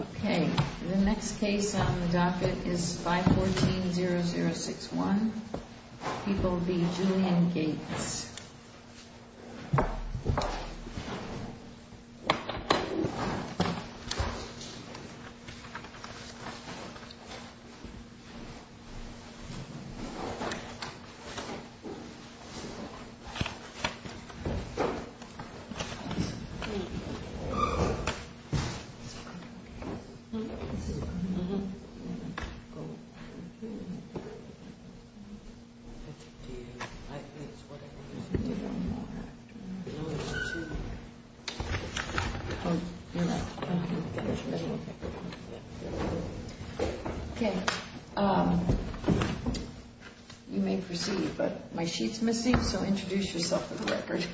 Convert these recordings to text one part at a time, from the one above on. Okay, the next case on the docket is 514-0061. He will be Julian Gates. Okay, you may proceed, but my sheet's missing, so introduce yourself for the record.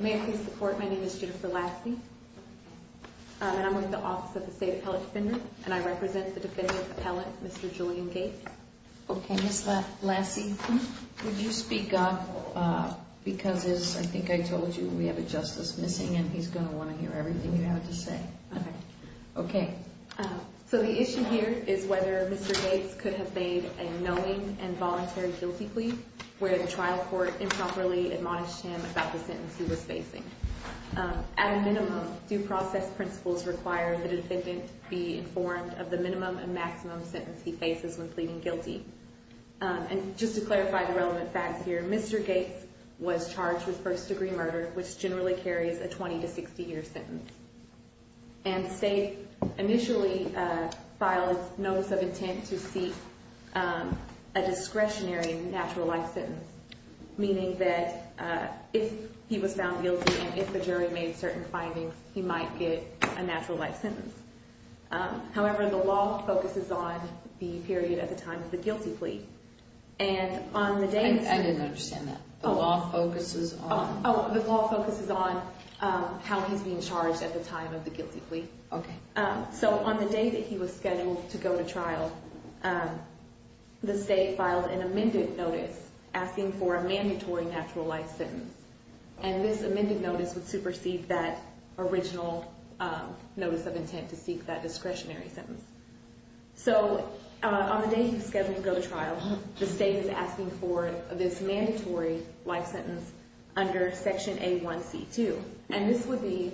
May I please report? My name is Jennifer Lassie, and I'm with the Office of the State Appellate Defender, and I represent the defendant's appellant, Mr. Julian Gates. Okay, Ms. Lassie, would you speak up because, as I think I told you, we have a justice missing, and he's going to want to hear everything you have to say. Okay, so the issue here is whether Mr. Gates could have made a knowing and voluntary guilty plea where the trial court improperly admonished him about the sentence he was facing. At a minimum, due process principles require that a defendant be informed of the minimum and maximum sentence he faces when pleading guilty. And just to clarify the relevant facts here, Mr. Gates was charged with first-degree murder, which generally carries a 20- to 60-year sentence. And the state initially filed notice of intent to seek a discretionary natural life sentence, meaning that if he was found guilty and if the jury made certain findings, he might get a natural life sentence. However, the law focuses on the period at the time of the guilty plea, and on the day... I didn't understand that. The law focuses on... Oh, the law focuses on how he's being charged at the time of the guilty plea. Okay. So on the day that he was scheduled to go to trial, the state filed an amended notice asking for a mandatory natural life sentence. And this amended notice would supersede that original notice of intent to seek that discretionary sentence. So on the day he was scheduled to go to trial, the state is asking for this mandatory life sentence under Section A1C2. And this would be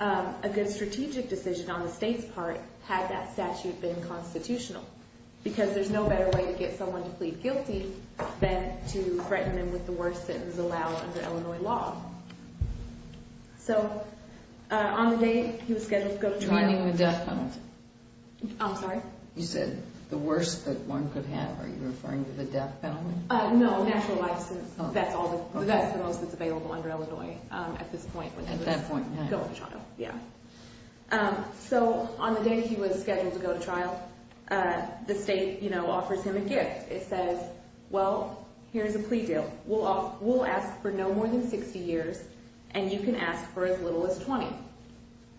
a good strategic decision on the state's part, had that statute been constitutional, because there's no better way to get someone to plead guilty than to threaten them with the worst sentence allowed under Illinois law. So on the day he was scheduled to go to trial... Joining the death penalty. I'm sorry? You said the worst that one could have. Are you referring to the death penalty? No, natural life sentence. That's the most that's available under Illinois at this point. At that point, yeah. Yeah. So on the day he was scheduled to go to trial, the state offers him a gift. It says, well, here's a plea deal. We'll ask for no more than 60 years, and you can ask for as little as 20.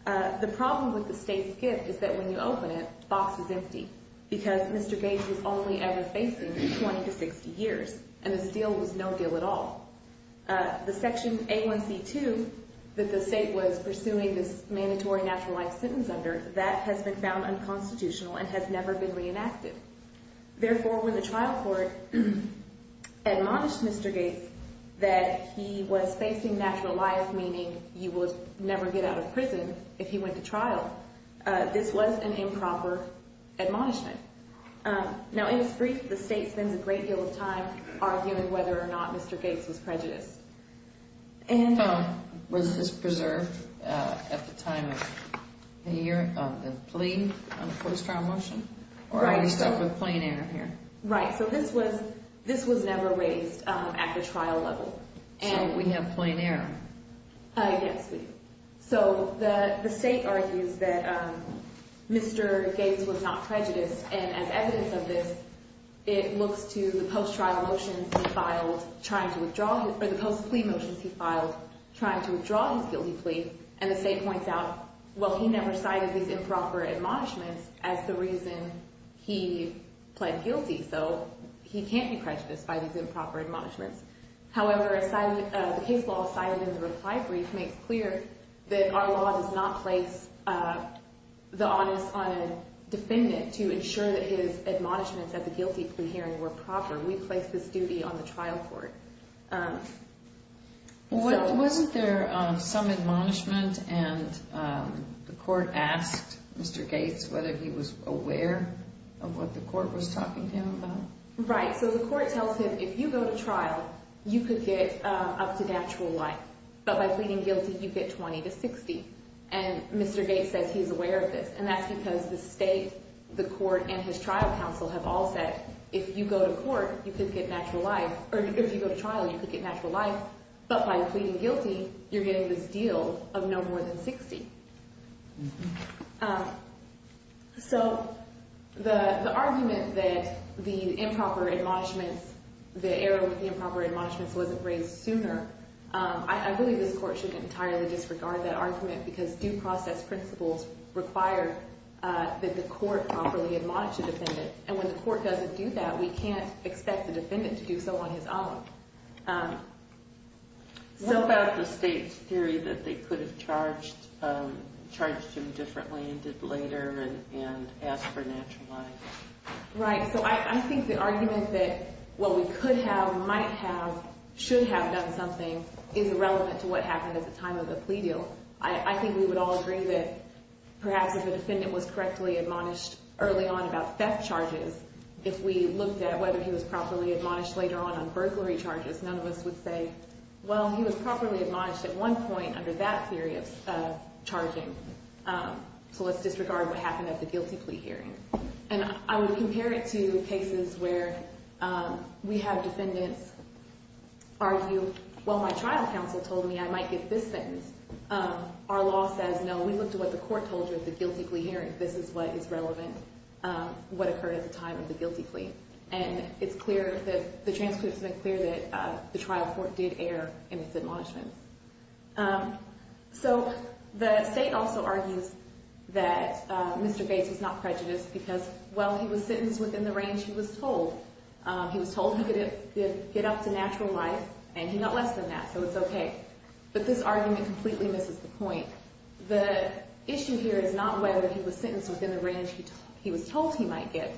The problem with the state's gift is that when you open it, the box is empty, because Mr. Gates was only ever facing 20 to 60 years, and this deal was no deal at all. The Section A1C2 that the state was pursuing this mandatory natural life sentence under, that has been found unconstitutional and has never been reenacted. Therefore, when the trial court admonished Mr. Gates that he was facing natural life, meaning he would never get out of prison if he went to trial, this was an improper admonishment. Now, in its brief, the state spends a great deal of time arguing whether or not Mr. Gates was prejudiced. Was this preserved at the time of the plea on the post-trial motion, or are you stuck with plain error here? Right. So this was never raised at the trial level. So we have plain error. Yes, we do. So the state argues that Mr. Gates was not prejudiced, and as evidence of this, it looks to the post-trial motions he filed trying to withdraw his – or the post-plea motions he filed trying to withdraw his guilty plea, and the state points out, well, he never cited these improper admonishments as the reason he pled guilty, so he can't be prejudiced by these improper admonishments. However, the case law cited in the reply brief makes clear that our law does not place the onus on a defendant to ensure that his admonishments at the guilty plea hearing were proper. We place this duty on the trial court. Wasn't there some admonishment, and the court asked Mr. Gates whether he was aware of what the court was talking to him about? Right. So the court tells him if you go to trial, you could get up to natural life, but by pleading guilty, you get 20 to 60, and Mr. Gates says he's aware of this, and that's because the state, the court, and his trial counsel have all said if you go to court, you could get natural life – or if you go to trial, you could get natural life, but by pleading guilty, you're getting this deal of no more than 60. So the argument that the improper admonishments, the error with the improper admonishments wasn't raised sooner, I believe this court should entirely disregard that argument because due process principles require that the court properly admonish a defendant, and when the court doesn't do that, we can't expect the defendant to do so on his own. What about the state's theory that they could have charged him differently and did later and asked for natural life? Right. So I think the argument that what we could have, might have, should have done something is irrelevant to what happened at the time of the plea deal. I think we would all agree that perhaps if a defendant was correctly admonished early on about theft charges, if we looked at whether he was properly admonished later on on burglary charges, none of us would say, well, he was properly admonished at one point under that theory of charging, so let's disregard what happened at the guilty plea hearing. And I would compare it to cases where we have defendants argue, well, my trial counsel told me I might get this sentence. Our law says, no, we looked at what the court told you at the guilty plea hearing. This is what is relevant, what occurred at the time of the guilty plea. And it's clear that the transcripts make clear that the trial court did err in its admonishment. So the state also argues that Mr. Bates was not prejudiced because, well, he was sentenced within the range he was told. He was told he could get up to natural life, and he got less than that, so it's okay. But this argument completely misses the point. The issue here is not whether he was sentenced within the range he was told he might get.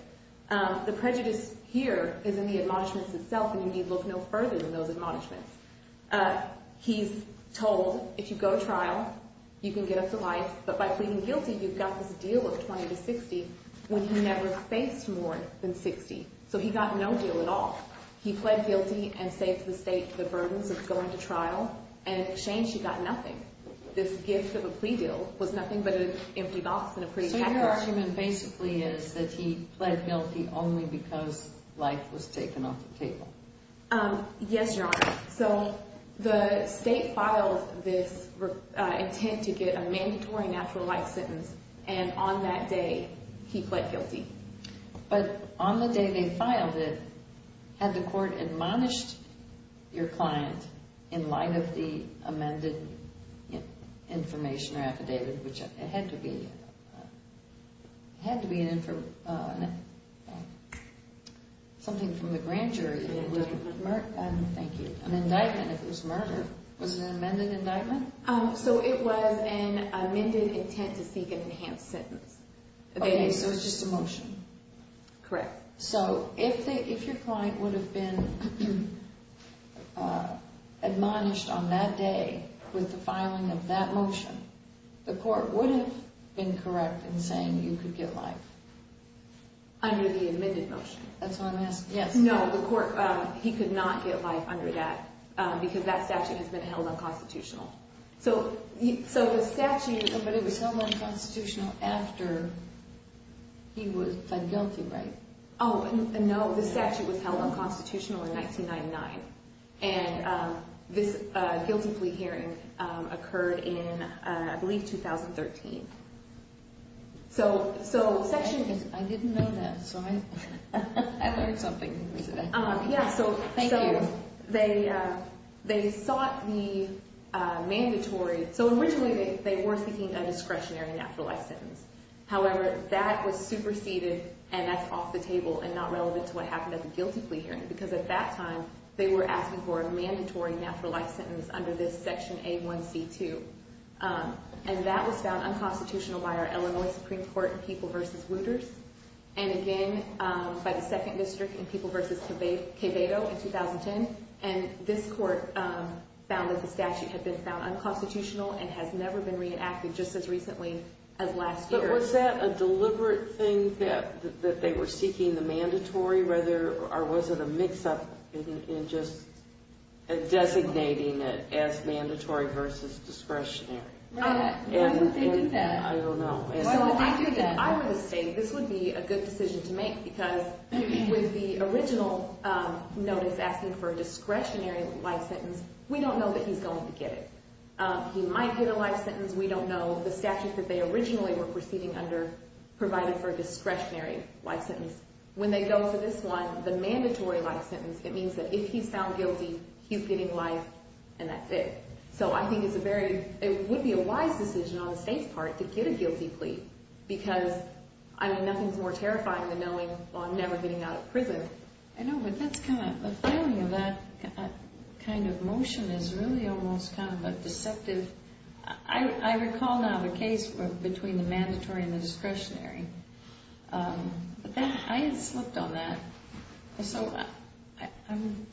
The prejudice here is in the admonishments itself, and you need look no further than those admonishments. He's told if you go to trial, you can get up to life, but by pleading guilty, you've got this deal of 20 to 60 when he never faced more than 60. So he got no deal at all. He pled guilty and saved the state the burdens of going to trial, and in exchange, he got nothing. This gift of a plea deal was nothing but an empty box and a pretty package. So your argument basically is that he pled guilty only because life was taken off the table. Yes, Your Honor. So the state filed this intent to get a mandatory natural life sentence, and on that day, he pled guilty. But on the day they filed it, had the court admonished your client in light of the amended information or affidavit, which it had to be something from the grand jury, an indictment if it was murder. Was it an amended indictment? So it was an amended intent to seek an enhanced sentence. Okay, so it was just a motion. Correct. So if your client would have been admonished on that day with the filing of that motion, the court would have been correct in saying you could get life? Under the admitted motion. That's what I'm asking. Yes. No, the court, he could not get life under that because that statute has been held unconstitutional. But it was held unconstitutional after he was found guilty, right? Oh, no, the statute was held unconstitutional in 1999, and this guilty plea hearing occurred in, I believe, 2013. I didn't know that, so I learned something. Thank you. So they sought the mandatory, so originally they were seeking a discretionary natural life sentence. However, that was superseded, and that's off the table and not relevant to what happened at the guilty plea hearing because at that time they were asking for a mandatory natural life sentence under this Section A1C2, and that was found unconstitutional by our Illinois Supreme Court in People v. Wooters and again by the Second District in People v. Quevedo in 2010, and this court found that the statute had been found unconstitutional and has never been reenacted just as recently as last year. But was that a deliberate thing that they were seeking the mandatory, or was it a mix-up in just designating it as mandatory versus discretionary? Why would they do that? I don't know. So I would say this would be a good decision to make because with the original notice asking for a discretionary life sentence, we don't know that he's going to get it. He might get a life sentence. We don't know. The statute that they originally were proceeding under provided for a discretionary life sentence. When they go for this one, the mandatory life sentence, it means that if he's found guilty, he's getting life, and that's it. So I think it would be a wise decision on the state's part to get a guilty plea because nothing's more terrifying than knowing I'm never getting out of prison. I know, but the feeling of that kind of motion is really almost kind of a deceptive. I recall now the case between the mandatory and the discretionary. I had slipped on that. So I'm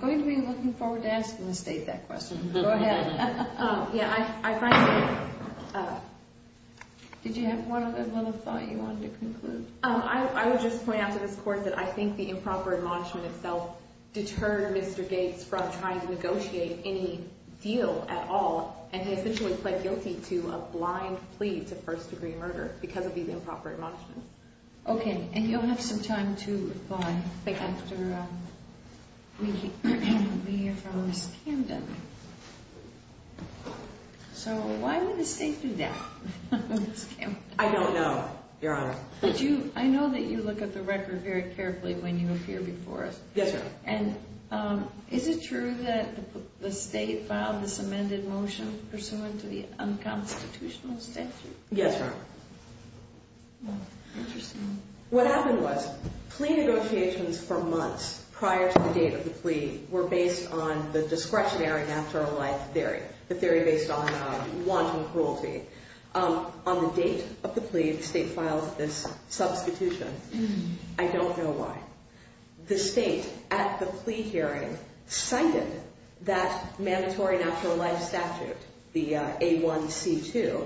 going to be looking forward to asking the state that question. Go ahead. Yeah, I find it. Did you have one other thought you wanted to conclude? I would just point out to this Court that I think the improper admonishment itself deterred Mr. Gates from trying to negotiate any deal at all, and he essentially pled guilty to a blind plea to first-degree murder because of these improper admonishments. Okay, and you'll have some time to reply after we hear from Ms. Camden. So why would the state do that? I don't know, Your Honor. I know that you look at the record very carefully when you appear before us. Yes, Your Honor. And is it true that the state filed this amended motion pursuant to the unconstitutional statute? Yes, Your Honor. Interesting. What happened was plea negotiations for months prior to the date of the plea were based on the discretionary natural life theory, the theory based on wanton cruelty. On the date of the plea, the state filed this substitution. I don't know why. The state at the plea hearing cited that mandatory natural life statute, the A1C2.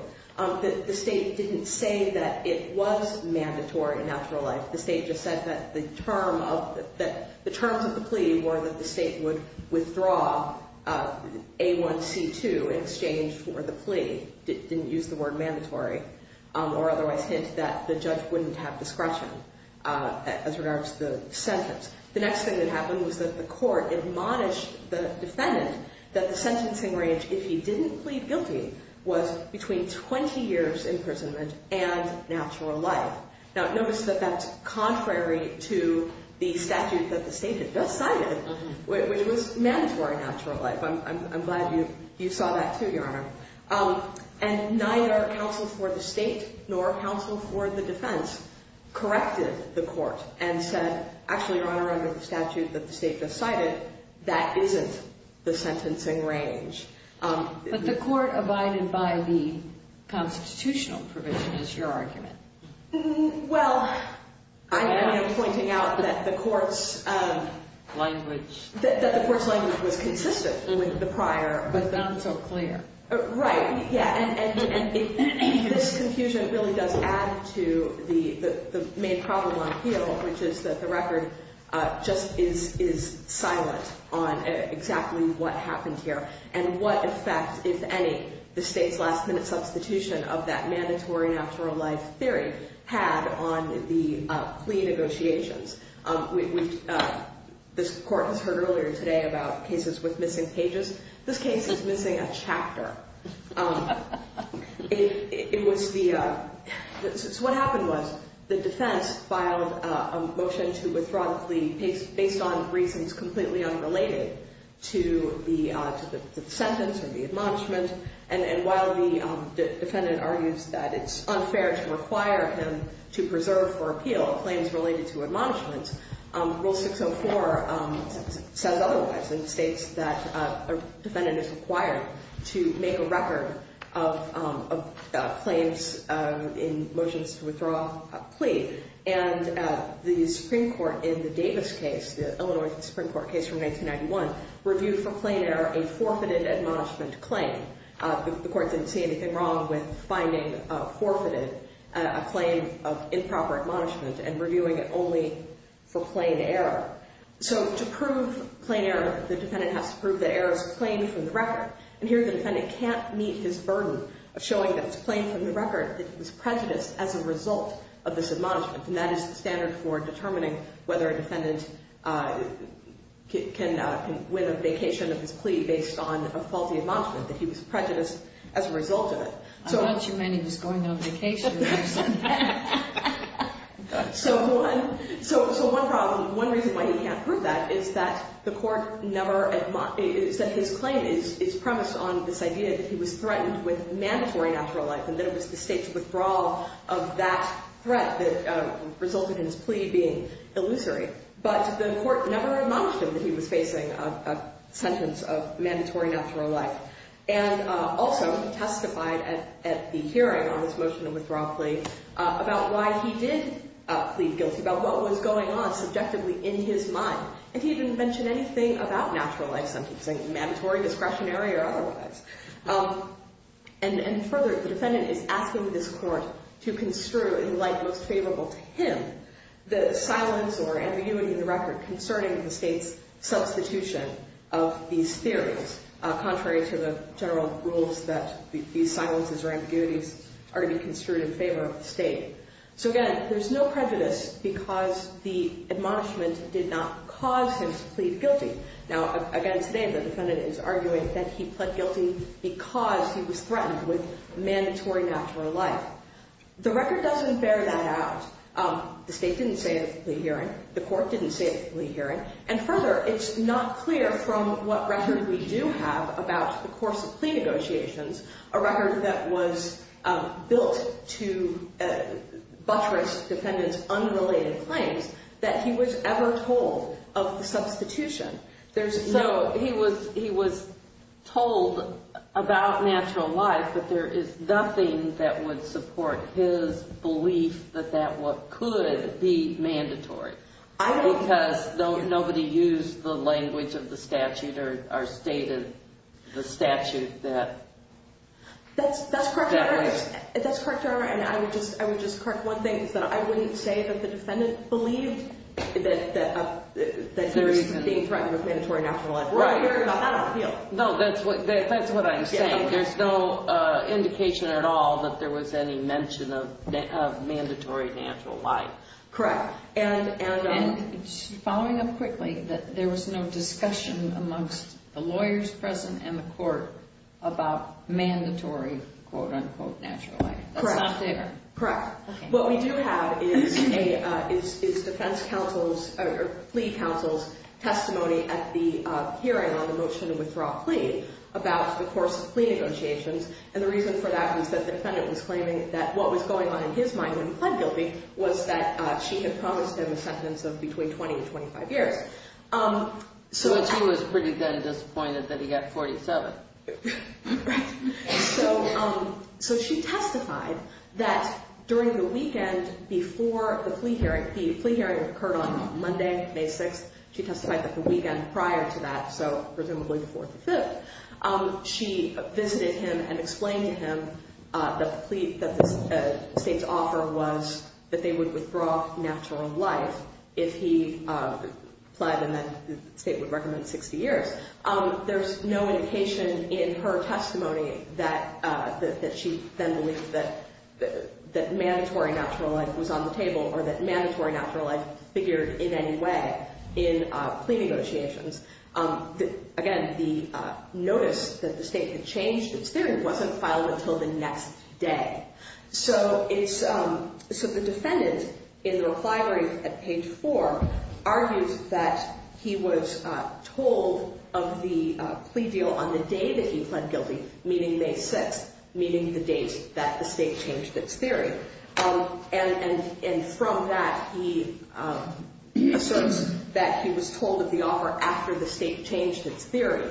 The state didn't say that it was mandatory natural life. The state just said that the terms of the plea were that the state would withdraw A1C2 in exchange for the plea. It didn't use the word mandatory, or otherwise hint that the judge wouldn't have discretion as regards to the sentence. The next thing that happened was that the court admonished the defendant that the sentencing range, if he didn't plead guilty, was between 20 years imprisonment and natural life. Now, notice that that's contrary to the statute that the state had just cited, which was mandatory natural life. I'm glad you saw that, too, Your Honor. And neither counsel for the state nor counsel for the defense corrected the court and said, actually, Your Honor, contrary to the statute that the state just cited, that isn't the sentencing range. But the court abided by the constitutional provision, is your argument. Well, I'm pointing out that the court's language was consistent with the prior. But not so clear. Right. Yeah. And this confusion really does add to the main problem on appeal, which is that the record just is silent on exactly what happened here. And what effect, if any, the state's last-minute substitution of that mandatory natural life theory had on the plea negotiations. This court has heard earlier today about cases with missing pages. This case is missing a chapter. It was the so what happened was the defense filed a motion to withdraw the plea based on reasons completely unrelated to the sentence or the admonishment. And while the defendant argues that it's unfair to require him to preserve for appeal claims related to admonishments, Rule 604 says otherwise. And states that a defendant is required to make a record of claims in motions to withdraw a plea. And the Supreme Court in the Davis case, the Illinois Supreme Court case from 1991, reviewed for plain error a forfeited admonishment claim. The court didn't see anything wrong with finding forfeited a claim of improper admonishment and reviewing it only for plain error. So to prove plain error, the defendant has to prove that error is plain from the record. And here the defendant can't meet his burden of showing that it's plain from the record, that he was prejudiced as a result of this admonishment. And that is the standard for determining whether a defendant can win a vacation of his plea based on a faulty admonishment, that he was prejudiced as a result of it. I thought you meant he was going on vacation. So one problem, one reason why he can't prove that is that the court never admonished, is that his claim is premised on this idea that he was threatened with mandatory natural life and that it was the state's withdrawal of that threat that resulted in his plea being illusory. But the court never admonished him that he was facing a sentence of mandatory natural life. And also testified at the hearing on this motion of withdrawal plea about why he did plead guilty, about what was going on subjectively in his mind. And he didn't mention anything about natural life sentencing, mandatory, discretionary, or otherwise. And further, the defendant is asking this court to construe in light most favorable to him the silence or interviewing the record concerning the state's substitution of these theories, contrary to the general rules that these silences or ambiguities are to be construed in favor of the state. So again, there's no prejudice because the admonishment did not cause him to plead guilty. Now, again, today the defendant is arguing that he pled guilty because he was threatened with mandatory natural life. The record doesn't bear that out. The state didn't say it at the plea hearing. The court didn't say it at the plea hearing. And further, it's not clear from what record we do have about the course of plea negotiations, a record that was built to buttress the defendant's unrelated claims, that he was ever told of the substitution. So he was told about natural life, but there is nothing that would support his belief that that could be mandatory. Because nobody used the language of the statute or stated the statute that would. That's correct, Your Honor. And I would just correct one thing, is that I wouldn't say that the defendant believed that he was being threatened with mandatory natural life. We're all hearing about that on the field. No, that's what I'm saying. There's no indication at all that there was any mention of mandatory natural life. Correct. And following up quickly, there was no discussion amongst the lawyers present and the court about mandatory, quote-unquote, natural life. That's not there. Correct. What we do have is defense counsel's or plea counsel's testimony at the hearing on the motion to withdraw a plea about the course of plea negotiations. And the reason for that is that the defendant was claiming that what was going on in his mind when he pled guilty was that she had promised him a sentence of between 20 and 25 years. But she was pretty then disappointed that he got 47. Right. So she testified that during the weekend before the plea hearing, the plea hearing occurred on Monday, May 6th. She testified that the weekend prior to that, so presumably the 4th or 5th, she visited him and explained to him that the state's offer was that they would withdraw natural life if he pled and then the state would recommend 60 years. There's no indication in her testimony that she then believed that mandatory natural life was on the table or that mandatory natural life figured in any way in plea negotiations. Again, the notice that the state had changed its theory wasn't filed until the next day. So the defendant in the refinery at page 4 argues that he was told of the plea deal on the day that he pled guilty, meaning May 6th, meaning the date that the state changed its theory. And from that, he asserts that he was told of the offer after the state changed its theory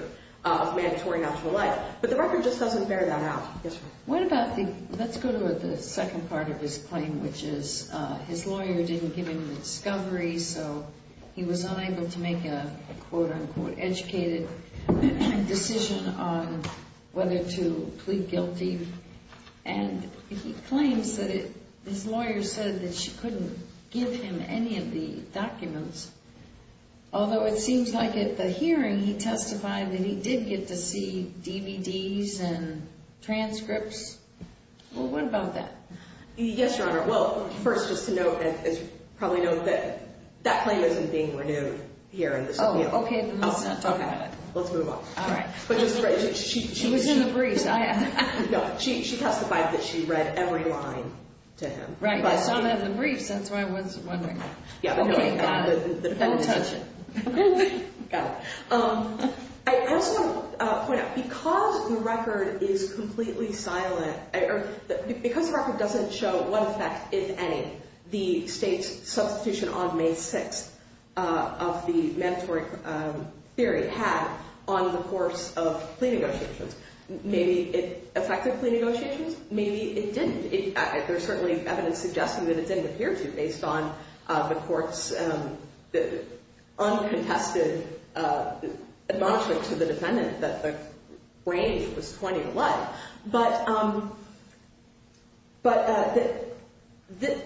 of mandatory natural life. But the record just doesn't bear that out. Yes, ma'am. Let's go to the second part of his claim, which is his lawyer didn't give him an discovery, so he was unable to make a, quote, unquote, educated decision on whether to plead guilty. And he claims that his lawyer said that she couldn't give him any of the documents, although it seems like at the hearing, he testified that he did get to see DVDs and transcripts. Well, what about that? Yes, Your Honor. Well, first, just to note and probably note that that claim isn't being renewed here in this appeal. Oh, okay. Then let's not talk about it. Okay. Let's move on. All right. She was in the briefs. I am. No, she testified that she read every line to him. Right. I saw that in the briefs. That's why I was wondering. Okay. Don't touch it. Okay. Got it. I also want to point out, because the record is completely silent or because the record doesn't show what effect, if any, the state's substitution on May 6th of the mandatory theory had on the course of plea negotiations. Maybe it affected plea negotiations. Maybe it didn't. There's certainly evidence suggesting that it didn't appear to based on the Court's uncontested admonishment to the defendant that the range was 20 or less. But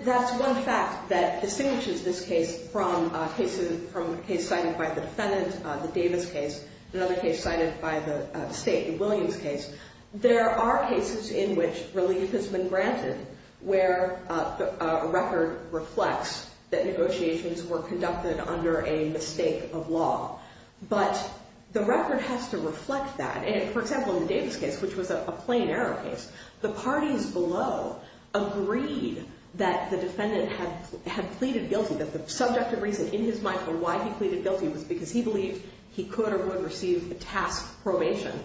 that's one fact that distinguishes this case from a case cited by the defendant, the Davis case, and another case cited by the state, the Williams case. There are cases in which relief has been granted where a record reflects that negotiations were conducted under a mistake of law. But the record has to reflect that. And, for example, in the Davis case, which was a plain error case, the parties below agreed that the defendant had pleaded guilty, that the subjective reason in his mind for why he pleaded guilty was because he believed he could or would receive a task probation.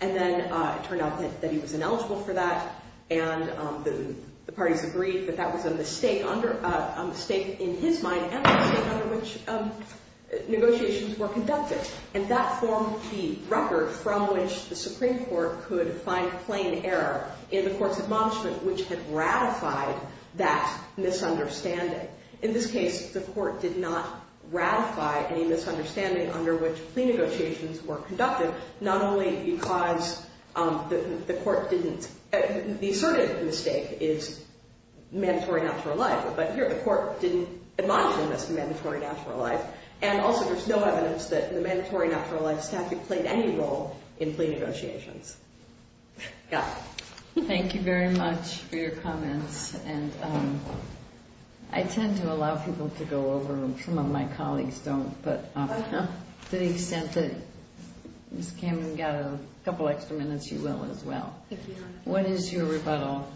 And then it turned out that he was ineligible for that, and the parties agreed that that was a mistake in his mind and a mistake under which negotiations were conducted. And that formed the record from which the Supreme Court could find plain error in the Court's admonishment, which had ratified that misunderstanding. In this case, the Court did not ratify any misunderstanding under which plea negotiations were conducted, not only because the Court didn't – the asserted mistake is mandatory natural life, but here the Court didn't admonish him as mandatory natural life. And also, there's no evidence that the mandatory natural life statute played any role in plea negotiations. Yeah. Thank you very much for your comments. And I tend to allow people to go over them. Some of my colleagues don't. But to the extent that Ms. Kamen got a couple extra minutes, you will as well. Thank you, Your Honor. What is your rebuttal?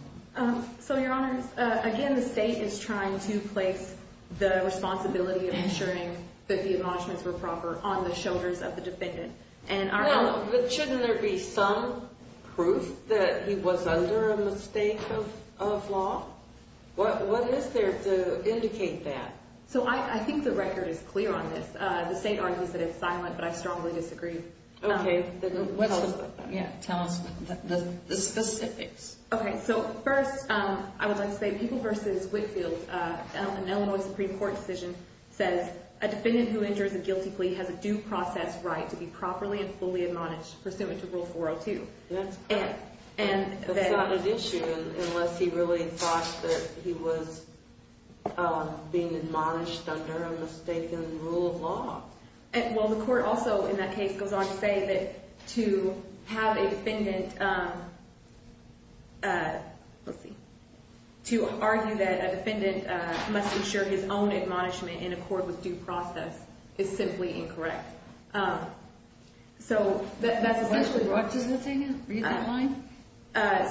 So, Your Honors, again, the State is trying to place the responsibility of ensuring that the admonishments were proper on the shoulders of the defendant. Well, but shouldn't there be some proof that he was under a mistake of law? What is there to indicate that? So, I think the record is clear on this. The State argues that it's silent, but I strongly disagree. Okay. Tell us about that. Yeah. Tell us the specifics. Okay. So, first, I would like to say, People v. Whitfield, an Illinois Supreme Court decision says, a defendant who enters a guilty plea has a due process right to be properly and fully admonished pursuant to Rule 402. That's correct. That's not an issue unless he really thought that he was being admonished under a mistaken rule of law. Well, the court also, in that case, goes on to say that to have a defendant, let's see, to argue that a defendant must ensure his own admonishment in accord with due process is simply incorrect. So, that's essentially what… What does it say now? Read that line.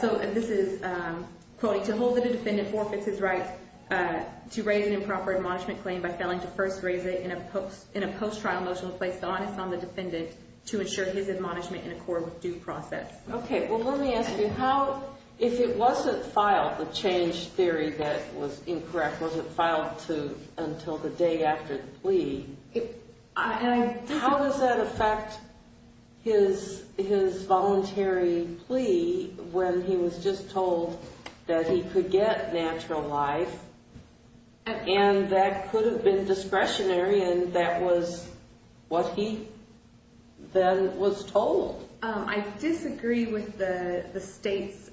So, this is, quote, to hold that a defendant forfeits his right to raise an improper admonishment claim by failing to first raise it in a post-trial motion to place the onus on the defendant to ensure his admonishment in accord with due process. Okay, well, let me ask you, if it wasn't filed, the change theory that was incorrect, was it filed until the day after the plea? How does that affect his voluntary plea when he was just told that he could get natural life and that could have been discretionary and that was what he then was told? I disagree with the State's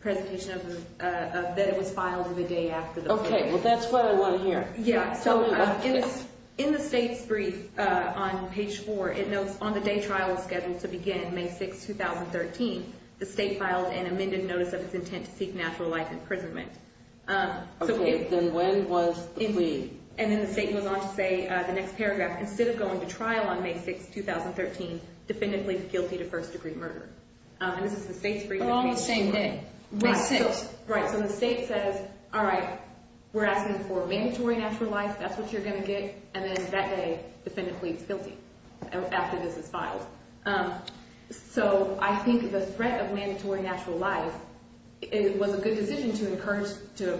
presentation of that it was filed the day after the plea. Okay, well, that's what I want to hear. Yeah, so, in the State's brief on page 4, it notes on the day trial was scheduled to begin, May 6, 2013, the State filed an amended notice of its intent to seek natural life imprisonment. Okay, then when was the plea? And then the State goes on to say, the next paragraph, instead of going to trial on May 6, 2013, defendant pleads guilty to first degree murder. And this is the State's brief. But on the same day, May 6. Right, so the State says, all right, we're asking for mandatory natural life, that's what you're going to get, and then that day, defendant pleads guilty after this is filed. So, I think the threat of mandatory natural life was a good decision to encourage him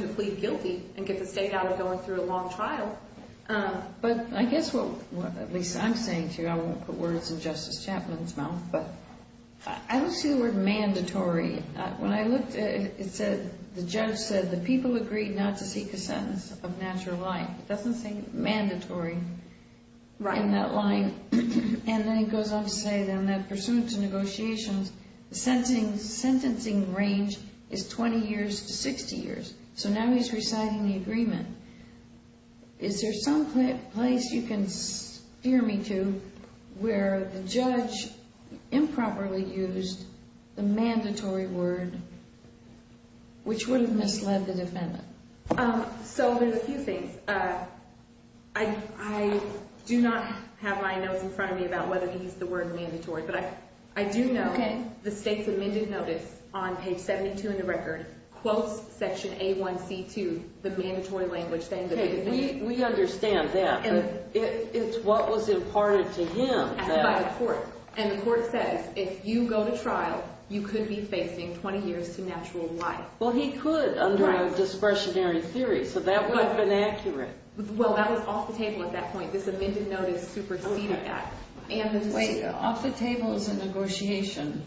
to plead guilty and get the State out of going through a long trial. But I guess what, at least I'm saying to you, I won't put words in Justice Chapman's mouth, but I don't see the word mandatory. When I looked at it, it said, the judge said, the people agreed not to seek a sentence of natural life. It doesn't say mandatory in that line. And then it goes on to say, in that pursuant to negotiations, the sentencing range is 20 years to 60 years. So now he's reciting the agreement. Is there some place you can steer me to where the judge improperly used the mandatory word, which would have misled the defendant? So there's a few things. I do not have my notes in front of me about whether he used the word mandatory. But I do know the State's amended notice on page 72 in the record quotes section A1C2, the mandatory language saying that the defendant… We understand that. It's what was imparted to him. …by the court. And the court says, if you go to trial, you could be facing 20 years to natural life. Well, he could under a discretionary theory, so that would have been accurate. Well, that was off the table at that point. This amended notice superseded that. Wait. Off the table is a negotiation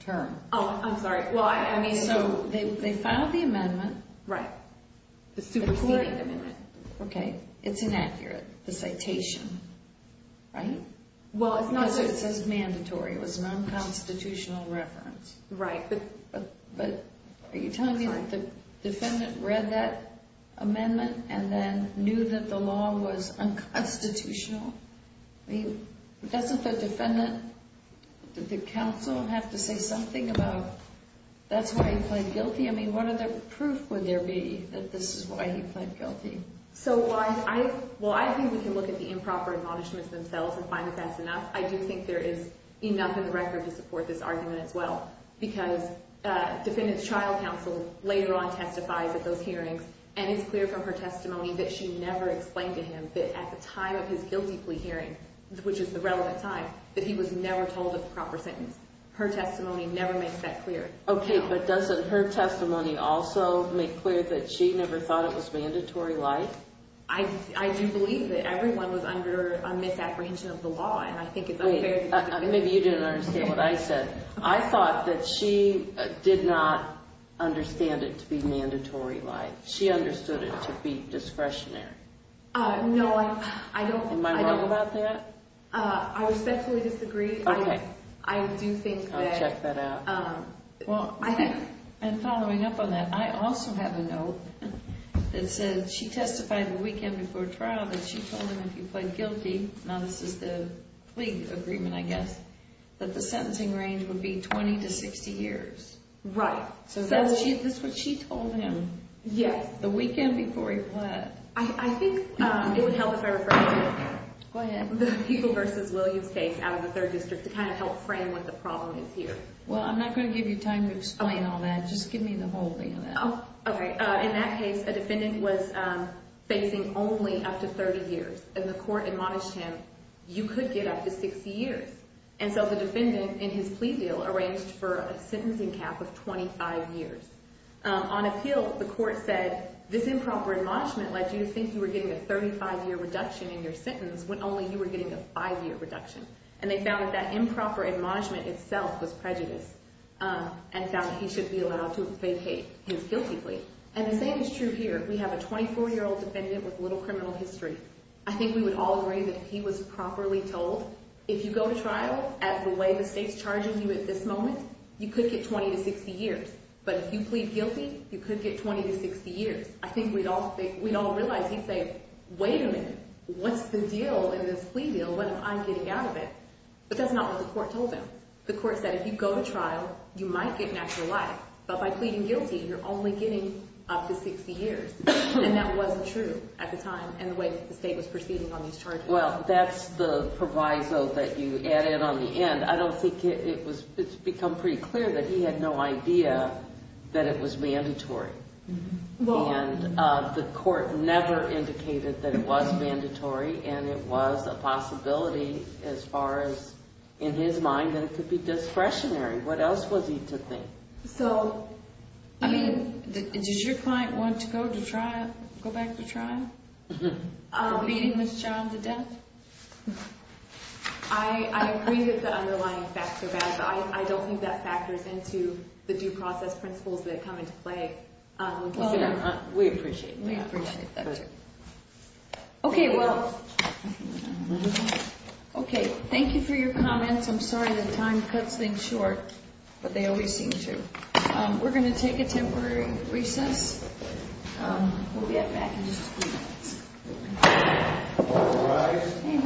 term. Oh, I'm sorry. Well, I mean, so… They filed the amendment. Right. The superseding amendment. Okay. It's inaccurate, the citation. Right? Well, it's not… It says mandatory. It was an unconstitutional reference. Right. But are you telling me that the defendant read that amendment and then knew that the law was unconstitutional? I mean, doesn't the defendant… Did the counsel have to say something about, that's why he pleaded guilty? I mean, what other proof would there be that this is why he pleaded guilty? So, while I think we can look at the improper admonishments themselves and find that that's enough, I do think there is enough in the record to support this argument as well, because defendant's trial counsel later on testifies at those hearings and it's clear from her testimony that she never explained to him that at the time of his guilty plea hearing, which is the relevant time, that he was never told of the proper sentence. Her testimony never makes that clear. Okay, but doesn't her testimony also make clear that she never thought it was mandatory life? I do believe that everyone was under a misapprehension of the law, and I think it's unfair… Wait, maybe you didn't understand what I said. I thought that she did not understand it to be mandatory life. She understood it to be discretionary. No, I don't… Am I wrong about that? I respectfully disagree. Okay. I do think that… I'll check that out. Well, and following up on that, I also have a note that says she testified the weekend before trial that she told him if he pled guilty, now this is the plea agreement I guess, that the sentencing range would be 20 to 60 years. Right. So that's what she told him. Yes, the weekend before he pled. I think it would help if I refer to the People v. Williams case out of the 3rd District to kind of help frame what the problem is here. Well, I'm not going to give you time to explain all that. Just give me the whole thing on that. Oh, okay. In that case, a defendant was facing only up to 30 years, and the court admonished him, you could get up to 60 years. And so the defendant in his plea deal arranged for a sentencing cap of 25 years. On appeal, the court said this improper admonishment led you to think you were getting a 35-year reduction in your sentence when only you were getting a five-year reduction. And they found that that improper admonishment itself was prejudice and found that he should be allowed to vacate his guilty plea. And the same is true here. We have a 24-year-old defendant with little criminal history. I think we would all agree that if he was properly told, if you go to trial at the way the state's charging you at this moment, you could get 20 to 60 years. But if you plead guilty, you could get 20 to 60 years. I think we'd all realize he'd say, wait a minute, what's the deal in this plea deal? What if I'm getting out of it? But that's not what the court told him. The court said if you go to trial, you might get natural life. But by pleading guilty, you're only getting up to 60 years. And that wasn't true at the time and the way the state was proceeding on these charges. Well, that's the proviso that you added on the end. But I don't think it's become pretty clear that he had no idea that it was mandatory. And the court never indicated that it was mandatory. And it was a possibility as far as in his mind that it could be discretionary. What else was he to think? So, I mean, does your client want to go to trial, go back to trial? For beating this child to death? I agree that the underlying facts are bad, but I don't think that factors into the due process principles that come into play. Well, we appreciate that. We appreciate that, too. Okay, well, okay, thank you for your comments. I'm sorry that time cuts things short, but they always seem to. We're going to take a temporary recess. We'll be right back in just a few minutes. All rise.